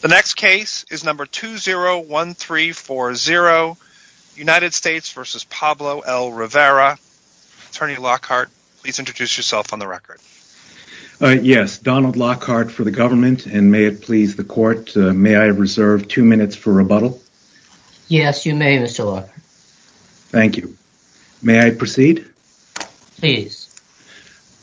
the next case is number two zero one three four zero united states vs. pablo el rivera attorney lockhart please introduce yourself on the record uh... yes donald lockhart for the government and may it please the court uh... may i reserve two minutes for rebuttal yes you may mister lockhart thank you may i proceed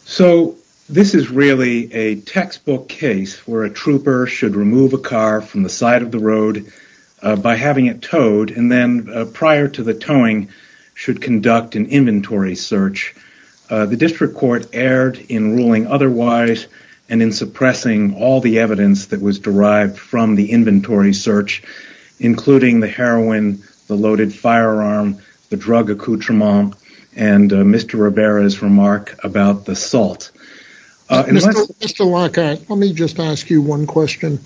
so this is really a textbook case where a trooper should remove a car from the side of the road uh... by having it towed and then uh... prior to the towing should conduct an inventory search uh... the district court erred in ruling otherwise and in suppressing all the evidence that was derived from the inventory search including the heroin the loaded firearm the drug accoutrement and uh... mister rivera's remark about the salt uh... mister lockhart let me just ask you one question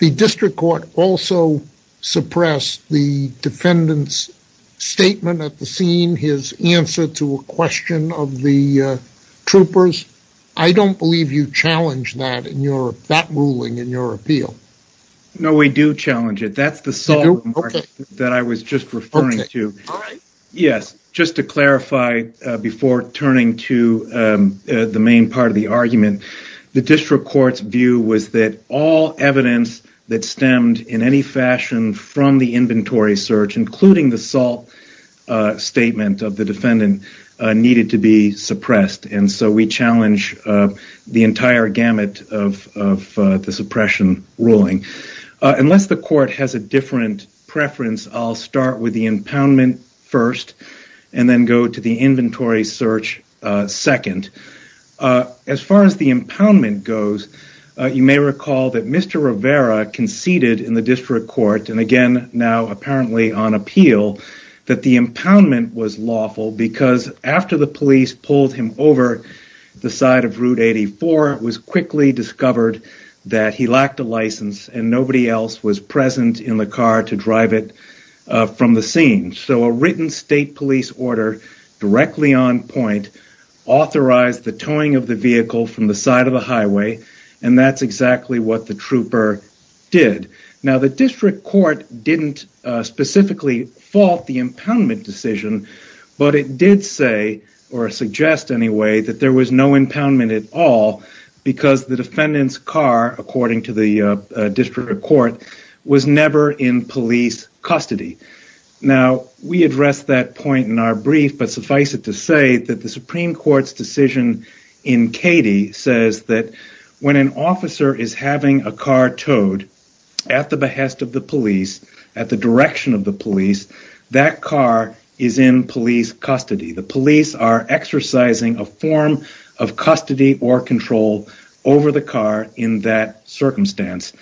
the district court also suppressed the defendants statement at the scene his answer to a question of the uh... troopers i don't believe you challenge that in your that ruling in your appeal no we do challenge it that's the salt remark that i was just referring to yes just to clarify before turning to uh... the main part of the argument the district court's view was that all evidence that stemmed in any fashion from the inventory search including the salt uh... statement of the defendant uh... needed to be suppressed and so we challenge uh... the entire gamut of of uh... the suppression ruling uh... unless the court has a different preference i'll start with the impoundment and then go to the inventory search uh... second uh... as far as the impoundment goes uh... you may recall that mister rivera conceded in the district court and again now apparently on appeal that the impoundment was lawful because after the police pulled him over the side of route eighty four was quickly discovered that he lacked a license and nobody else was present in the car to drive it uh... from the scene so a written state police order directly on point authorized the towing of the vehicle from the side of the highway and that's exactly what the trooper now the district court didn't uh... specifically fault the impoundment decision but it did say or suggest anyway that there was no impoundment at all because the defendant's car according to the uh... district court was never in police custody now we address that point in our brief but suffice it to say that the supreme court's decision in katie says that when an officer is having a car towed at the behest of the police at the direction of the police that car is in police custody the police are exercising a form of custody or control over the car in that circumstance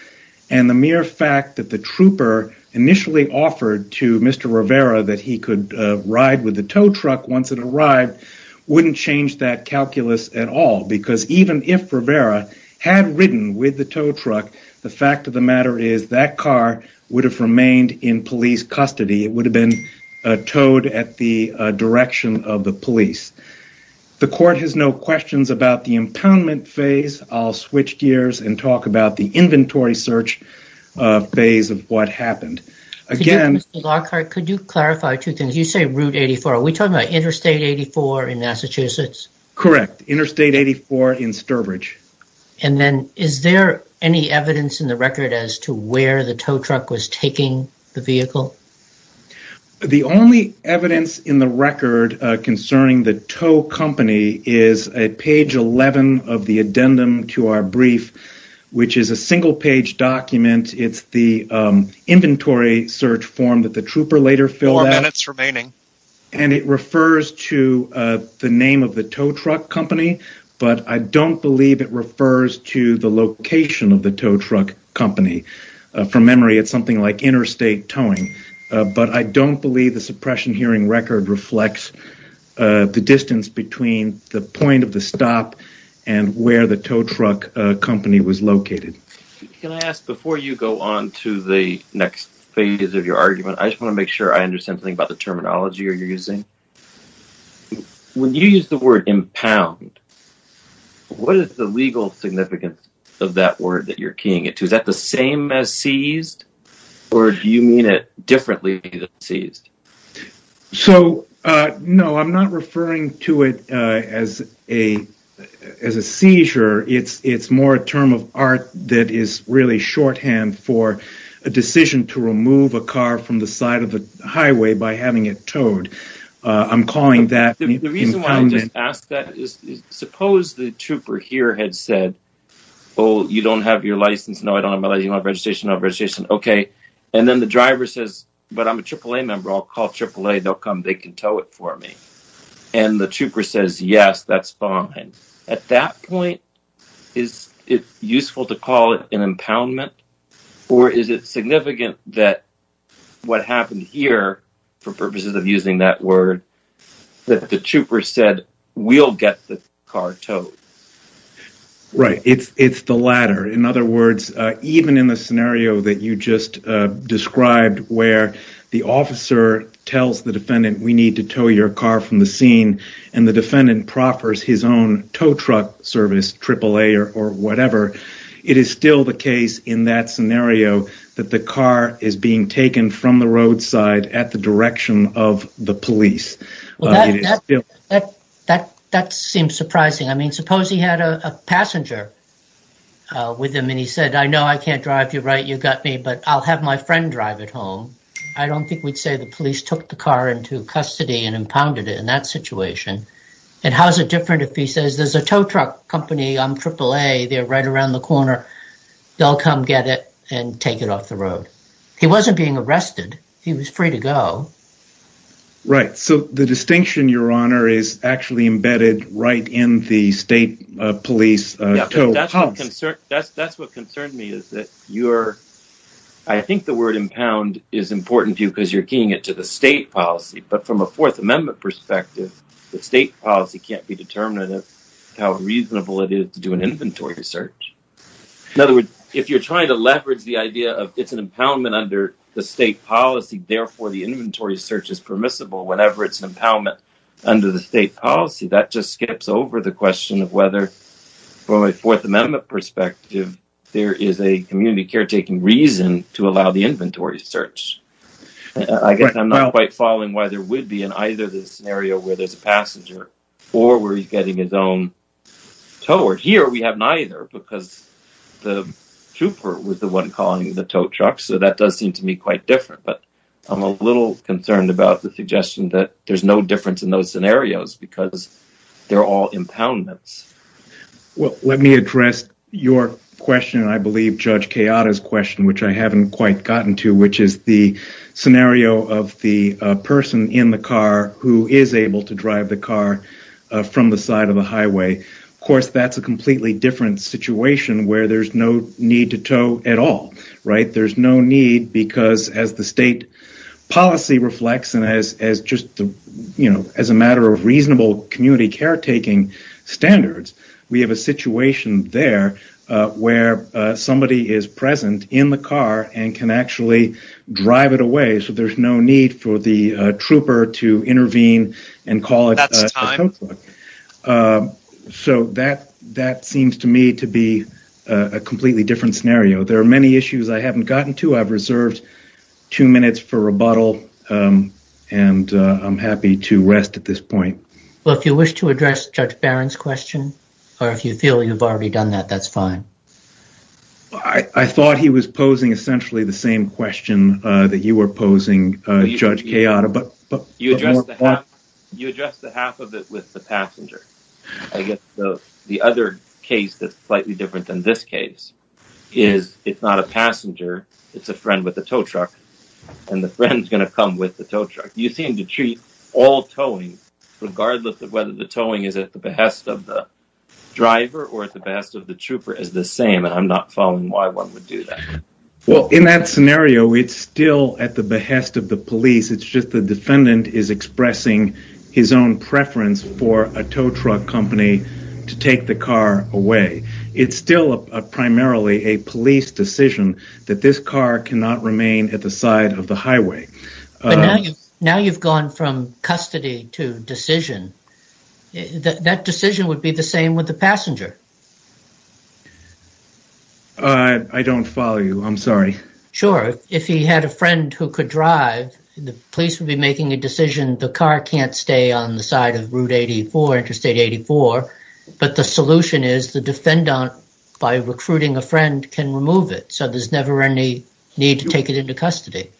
and the mere fact that the trooper initially offered to mister rivera that he could uh... ride with the tow truck once it arrived wouldn't change that calculus at all because even if rivera had ridden with the tow truck the fact of the matter is that car would have remained in police custody it would have been uh... towed at the uh... direction of the police the court has no questions about the impoundment phase i'll switch gears and talk about the inventory search uh... phase of what happened again mister lockhart could you clarify two things you say route 84 are we talking about interstate 84 in massachusetts correct interstate 84 in stirbridge and then is there any evidence in the record as to where the tow truck was taking the vehicle the only evidence in the record concerning the tow company is at page eleven of the addendum to our brief which is a single page document it's the uh... inventory search form that the trooper later filled out and it refers to uh... the name of the tow truck company but i don't believe it refers to the location of the tow truck company uh... from memory it's something like interstate towing uh... but i don't believe the suppression hearing record reflects uh... the distance between the point of the stop and where the tow truck uh... company was located can i ask before you go on to the next phase of your argument i just want to make sure i understand something about the terminology you're using when you use the word impound what is the legal significance of that word that you're keying it to is that the same as seized or do you mean it differently than seized so uh... no i'm not referring to it uh... as as a seizure it's it's more a term of art that is really shorthand for a decision to remove a car from the side of the highway by having it towed uh... i'm calling that impounded the reason why i just asked that is suppose the trooper here had said oh you don't have your license no i don't have my license no registration no registration and then the driver says but i'm a triple-a member i'll call triple-a they'll come they can tow it for me and the trooper says yes that's fine at that point is it useful to call it an impoundment or is it significant that what happened here for purposes of using that word that the trooper said we'll get the car towed right it's it's the latter in other words uh... even in the scenario that you just uh... described where the officer tells the defendant we need to tow your car from the scene and the defendant proffers his own tow truck service triple-a or whatever it is still the case in that scenario that the car is being taken from the roadside at the direction of the police well that that seems surprising i mean suppose he had a passenger uh... with him and he said i know i can't drive you're right you got me but i'll have my friend drive it home i don't think we'd say the police took the car into custody and impounded it in that situation and how's it different if he says there's a tow truck company on triple-a they're right around the corner they'll come get it and take it off the road he wasn't being arrested he was free to go right so the distinction your honor is actually embedded right in the state police tow policy that's what concerned me is that i think the word impound is important to you because you're keying it to the state policy but from a fourth amendment perspective the state policy can't be determinative how reasonable it is to do an inventory search if you're trying to leverage the idea of it's an impoundment under the state policy therefore the inventory search is permissible whenever it's impoundment under the state policy that just skips over the question of whether from a fourth amendment perspective there is a community caretaking reason to allow the inventory search i guess i'm not quite following why there would be in either the scenario where there's a passenger or where he's getting his own toward here we have neither because the trooper was the one calling the tow truck so that does seem to me quite different but i'm a little concerned about the suggestion that there's no difference in those scenarios because they're all impoundments well let me address your question i believe judge chiara's question which i haven't quite gotten to which is the scenario of the uh... person in the car who is able to drive the car uh... from the side of the highway of course that's a completely different situation where there's no need to tow at all right there's no need because as the state policy reflects and as as just the you know as a matter of reasonable community caretaking standards we have a situation there uh... where uh... somebody is present in the car and can actually drive it away so there's no need for the trooper to intervene and call it a tow truck uh... that seems to me to be uh... a completely different scenario there are many issues i haven't gotten to i've reserved two minutes for rebuttal and uh... i'm happy to rest at this point well if you wish to address judge barron's question or if you feel you've already done that that's fine i thought he was posing essentially the same question uh... that you were posing uh... judge chiara but you addressed the half you addressed the half of it with the passenger i guess the other case that's slightly different than this case is it's not a passenger it's a friend with a tow truck and the friend's gonna come with the tow truck you seem to treat all towing regardless of whether the towing is at the behest of the driver or at the behest of the trooper is the same and i'm not following why one would do that well in that scenario it's still at the behest of the police it's just the defendant is expressing his own preference for a tow truck company to take the car away it's still a primarily a police decision that this car cannot remain at the side of the highway now you've gone from custody to decision that decision would be the same with the passenger uh... i don't follow you i'm sorry sure if he had a friend who could drive the police would be making a decision the car can't stay on the side of route 84 interstate 84 but the solution is the defendant by recruiting a friend can remove it so there's never any need to take it into custody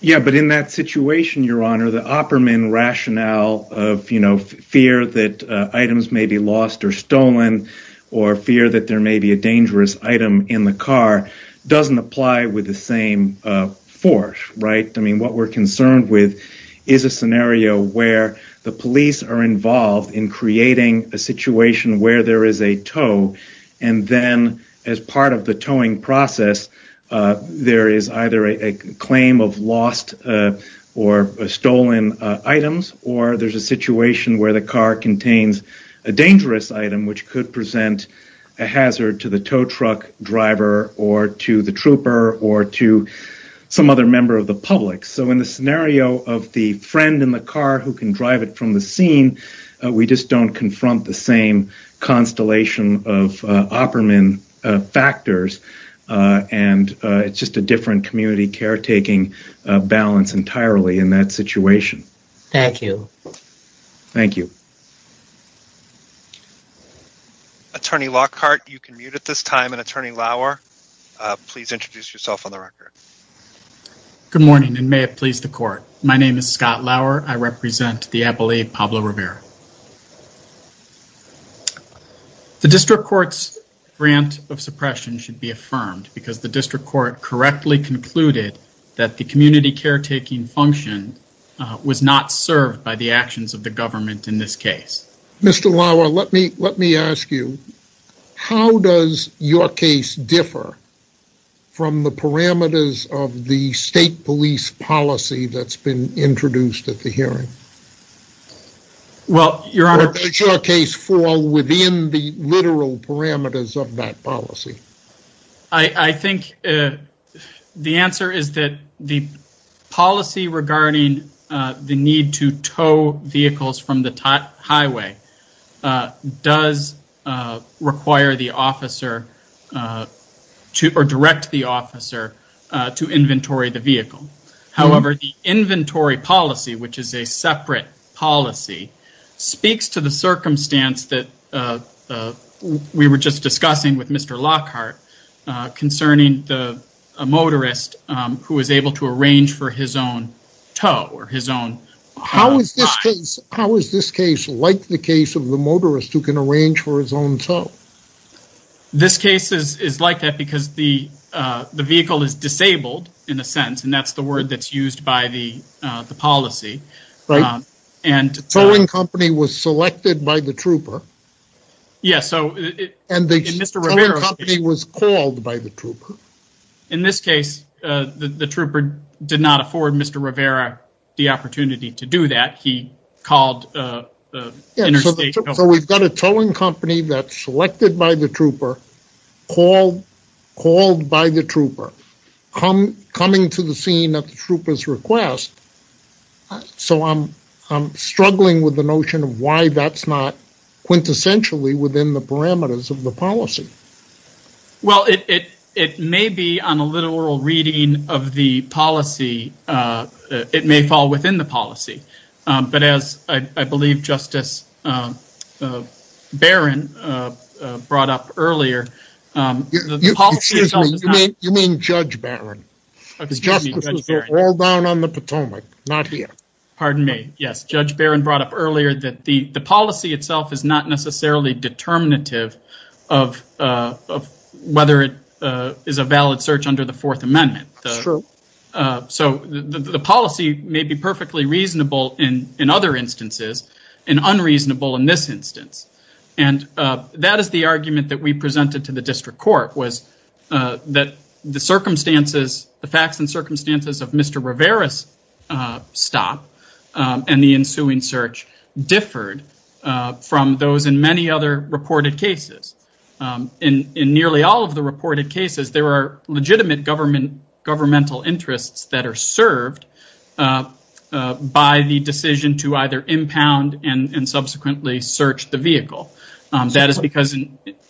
yeah but in that situation your honor the opperman rationale of you know fear that uh... items may be lost or stolen or fear that there may be a dangerous item in the car doesn't apply with the same uh... right i mean what we're concerned with is a scenario where the police are involved in creating a situation where there is a tow and then as part of the towing process uh... there is either a claim of lost uh... or stolen uh... items or there's a situation where the car contains a dangerous item which could present a hazard to the tow truck driver or to the trooper or to some other member of the public so in the scenario of the friend in the car who can drive it from the scene uh... we just don't confront the same constellation of uh... opperman uh... factors uh... and uh... it's just a different community caretaking uh... balance entirely in that situation thank you attorney lockhart you can mute at this time and attorney lauer uh... please introduce yourself on the record good morning and may it please the court my name is scott lauer i represent the appellate pablo rivera the district court's grant of suppression should be affirmed because the district court correctly concluded that the community caretaking function uh... was not served by the actions of the government in this case mister lauer let me let me ask you how does your case differ from the parameters of the state police policy that's been introduced at the hearing well your honor does your case fall within the literal parameters of that policy i i think uh... the answer is that policy regarding uh... the need to tow vehicles from the highway uh... does uh... require the officer to or direct the officer uh... to inventory the vehicle however the inventory policy which is a separate policy speaks to the circumstance that uh... we were just discussing with mister lockhart uh... concerning the a motorist uh... who was able to arrange for his own tow or his own how is this case how is this case like the case of the motorist who can arrange for his own tow this case is is like that because the uh... the vehicle is disabled in a sense and that's the word that's used by the uh... the policy and uh... the towing company was selected by the trooper yes so uh... and the towing company was called by the trooper in this case uh... the trooper did not afford mister rivera the opportunity to do that he so we've got a towing company that's selected by the trooper called called by the trooper coming to the scene at the trooper's request uh... so I'm I'm struggling with the notion of why that's not quintessentially within the parameters of the policy well it it may be on a literal reading of the policy uh... it may fall within the policy uh... but as I believe justice baron uh... brought up earlier uh... the policy itself is not you mean judge baron justice is all down on the potomac not here pardon me yes judge baron brought up earlier that the the policy itself is not necessarily determinative of uh... of whether it uh... is a valid search under the fourth amendment uh... so the the policy may be perfectly reasonable in in other instances and unreasonable in this instance and uh... that is the argument that we presented to the district court was uh... that the circumstances the facts and circumstances of mister rivera's uh... stop uh... and the ensuing search differed uh... from those in many other reported cases uh... in in nearly all of the reported cases there are legitimate government governmental interests that are served uh... by the decision to either impound and and subsequently search the vehicle uh... that is because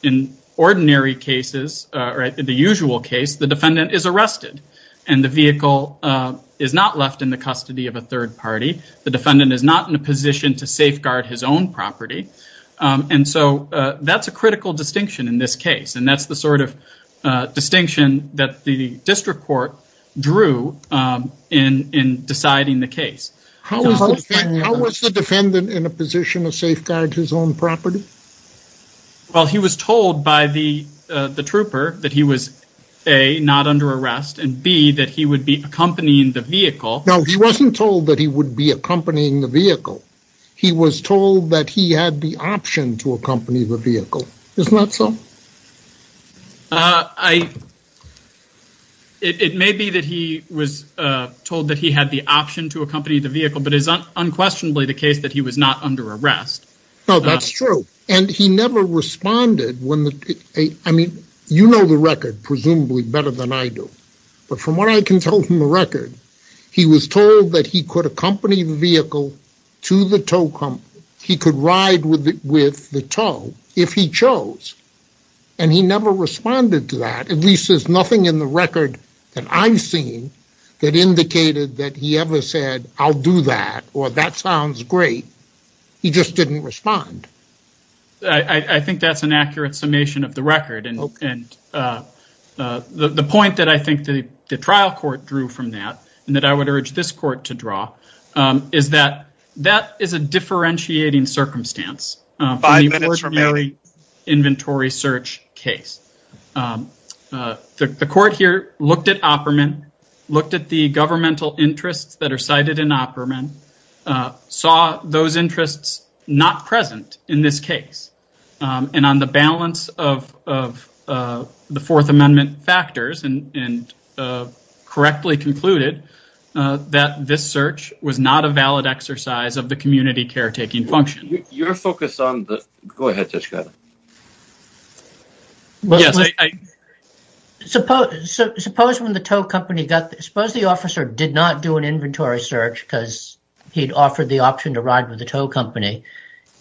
in ordinary cases uh... the usual case the defendant is arrested and the vehicle uh... is not left in the custody of a third party the defendant is not in a position to safeguard his own property uh... and so uh... that's a critical distinction in this case and that's the sort of uh... distinction that the district court drew uh... in in deciding the case how was the defendant in a position to safeguard his own property? well he was told by the uh... the trooper that he was a not under arrest and b that he would be accompanying the vehicle he wasn't told that he would be accompanying the vehicle he was told that he had the option to accompany the vehicle isn't that so? uh... i it may be that he was uh... told that he had the option to accompany the vehicle but it's unquestionably the case that he was not under arrest well that's true and he never responded when the uh... I mean you know the record presumably better than I do but from what I can tell from the record he was told that he could accompany the vehicle to the tow company he could ride with the tow if he chose and he never responded to that at least there's nothing in the record that I've seen that indicated that he ever said I'll do that or that sounds great he just didn't respond I think that's an accurate summation of the record and uh... uh... the point that I think the trial court drew from that and that I would urge this court to draw uh... is that that is a differentiating circumstance uh... from the ordinary inventory search case uh... uh... the court here looked at Opperman looked at the governmental interests that are cited in Opperman uh... saw those interests not present in this case uh... and on the balance of of uh... the fourth amendment factors and and correctly concluded uh... that this search was not a valid exercise of the community caretaking function your focus on the go ahead Judge Kiley yes I suppose suppose when the tow company got suppose the officer did not do an inventory search because he'd offered the option to ride with the tow company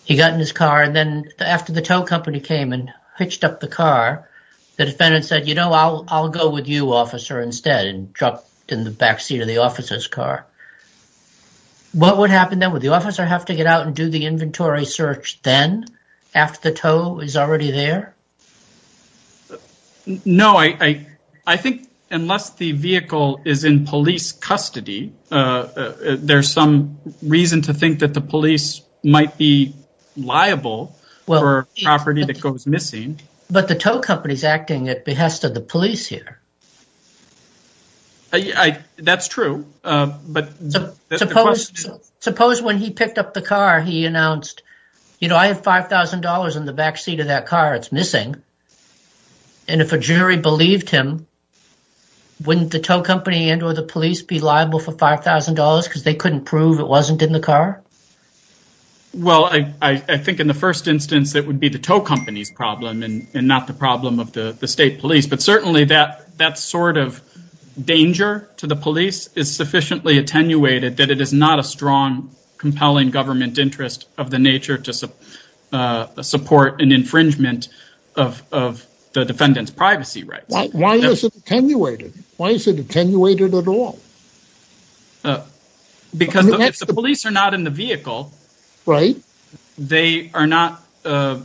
he got in his car and then after the tow company came in pitched up the car the defendant said you know I'll I'll go with you officer instead and dropped in the back seat of the officer's car what would happen then would the officer have to get out and do the inventory search then after the tow is already there no I I I think unless the vehicle is in police custody uh... there's some reason to think that the police might be liable for property that goes missing but the tow company is acting at behest of the police here that's true uh... but suppose suppose when he picked up the car he announced you know I have five thousand dollars in the back seat of that car it's missing and if a jury believed him wouldn't the tow company and or the police be liable for five thousand dollars because they couldn't prove it wasn't in the car well I I I think in the first instance it would be the tow company's problem and and not the problem of the the state police but certainly that that sort of danger to the police is sufficiently attenuated that it is not a strong compelling government interest of the nature to support uh... support an infringement of of the defendant's privacy rights why why is it attenuated why is it attenuated at all because if the police are not in the vehicle they are not uh...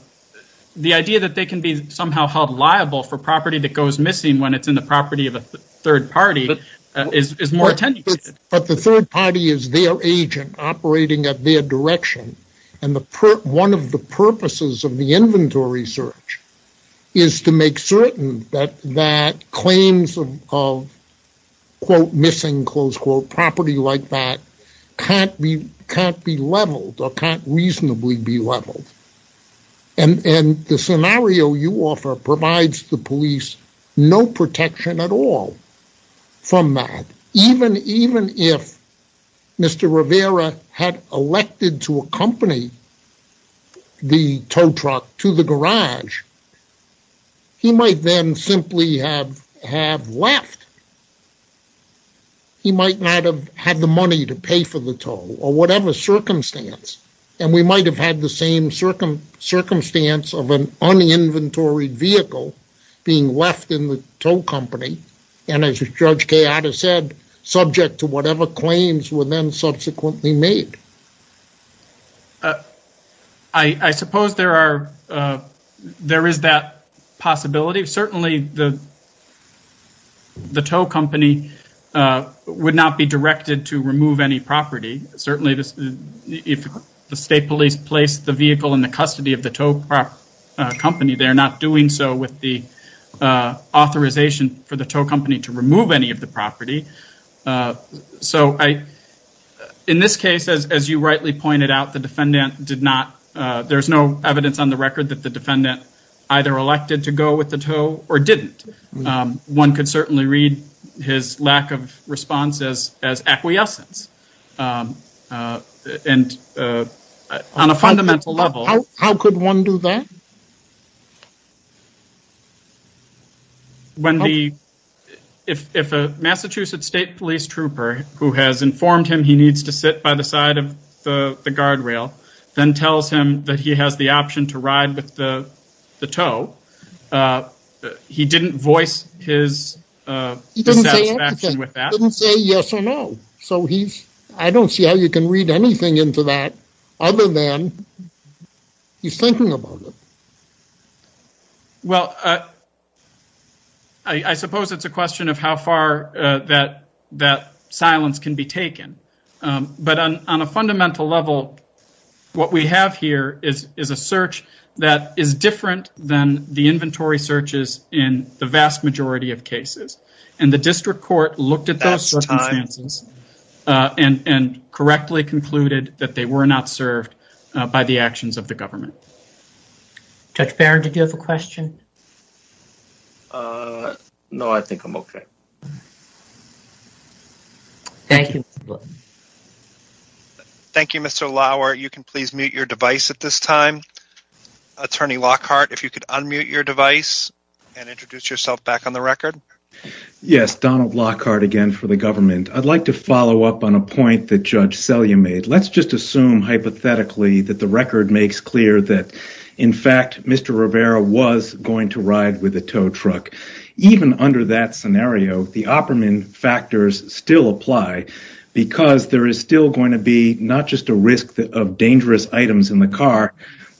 the idea that they can be somehow held liable for property that goes missing when it's in the property of a third party is is more tendency but the third party is their agent operating at their direction and the per one of the purposes of the inventory search is to make certain that that claims of of quote missing close quote property like that can't be can't be leveled or can't reasonably be leveled and and the scenario you offer provides the police no protection at all from that even even if Mr. Rivera had elected to accompany the tow truck to the garage he might then simply have have left he might not have had the money to pay for the tow or whatever circumstance and we might have had the same circumstance of an un-inventoried vehicle being left in the tow company and as Judge Keada said subject to whatever claims were then subsequently made I suppose there are there is that possibility certainly the the tow company uh... would not be directed to remove any property certainly this if the state police place the vehicle in the custody of the tow truck uh... company they're not doing so with the uh... authorization for the tow company to remove any of the property uh... so I in this case as as you rightly pointed out the defendant did not uh... there's no evidence on the record that the defendant either elected to go with the tow or didn't uh... one could certainly read his lack of as acquiescence uh... uh... and uh... on a fundamental level how could one do that? when the if if a massachusetts state police trooper who has informed him he needs to sit by the side of the the guardrail then tells him that he has the option to ride with the the tow uh... uh... he didn't voice his he didn't say yes or no so he's i don't see how you can read anything into that other than he's thinking about it well uh... i i suppose it's a question of how far uh... that silence can be taken uh... but on on a fundamental level what we have here is is a search that is different than the inventory searches in the vast majority of cases and the district court looked at those circumstances uh... and and correctly concluded that they were not served uh... by the actions of the government judge barron did you have a question? uh... no i think i'm okay thank you thank you mister lauer you can please mute your device at this time attorney lockhart if you could unmute your device and introduce yourself back on the record yes donald lockhart again for the government i'd like to follow up on a point that judge sell you made let's just assume hypothetically that the record makes clear that in fact mister rivera was going to ride with the tow truck even under that scenario the operman factors still apply because there is still going to be not just a risk of dangerous items in the car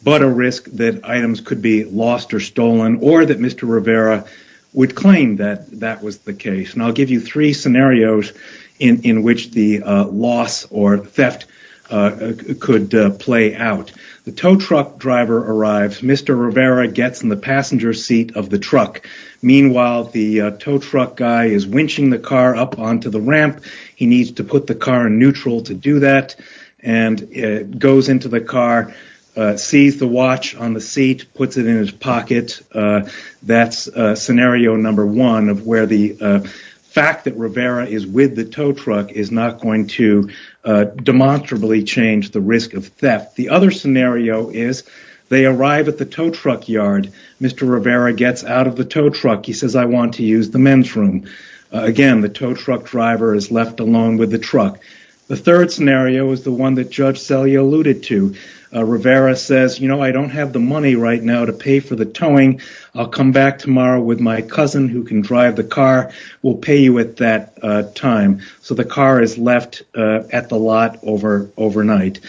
but a risk that items could be lost or stolen or that mister rivera would claim that that was the case and i'll give you three scenarios in in which the uh... loss or theft uh... could uh... play out the tow truck driver arrives mister rivera gets in the passenger seat of the truck meanwhile the uh... tow truck guy is winching the car up onto the ramp he needs to put the car neutral to do that and uh... goes into the car uh... sees the watch on the seat puts it in his pocket uh... that's uh... scenario number one of where the uh... fact that rivera is with the tow truck is not going to uh... demonstrably change the risk of theft the other scenario is they arrive at the tow truck yard mister rivera gets out of the tow truck he says i want to use the men's room again the tow truck driver is left alone with the truck the third scenario is the one that judge sell you alluded to uh... rivera says you know i don't have the money right now to pay for the towing i'll come back tomorrow with my cousin who can drive the car will pay you at that uh... time so the car is left uh... at the lot over overnight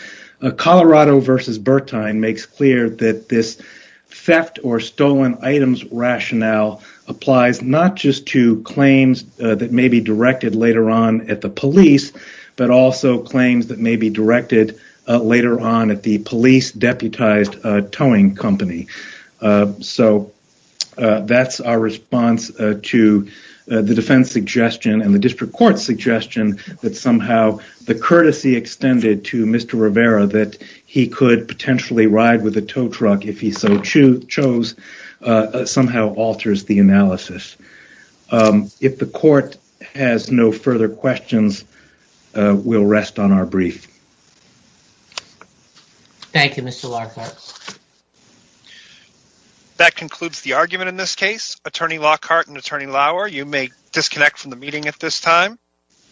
colorado versus bertine makes clear that this theft or stolen items rationale applies not just to claims that may be directed later on at the police but also claims that may be directed uh... later on at the police deputized uh... towing company uh... so uh... that's our response uh... to uh... the defense suggestion in the district court suggestion that somehow the courtesy extended to mister rivera that he could potentially ride with a tow truck if he so chose uh... somehow alters the analysis uh... if the court has no further questions uh... we'll rest on our brief thank you mister lockhart that concludes the argument in this case attorney lockhart and attorney lauer you may disconnect from the meeting at this time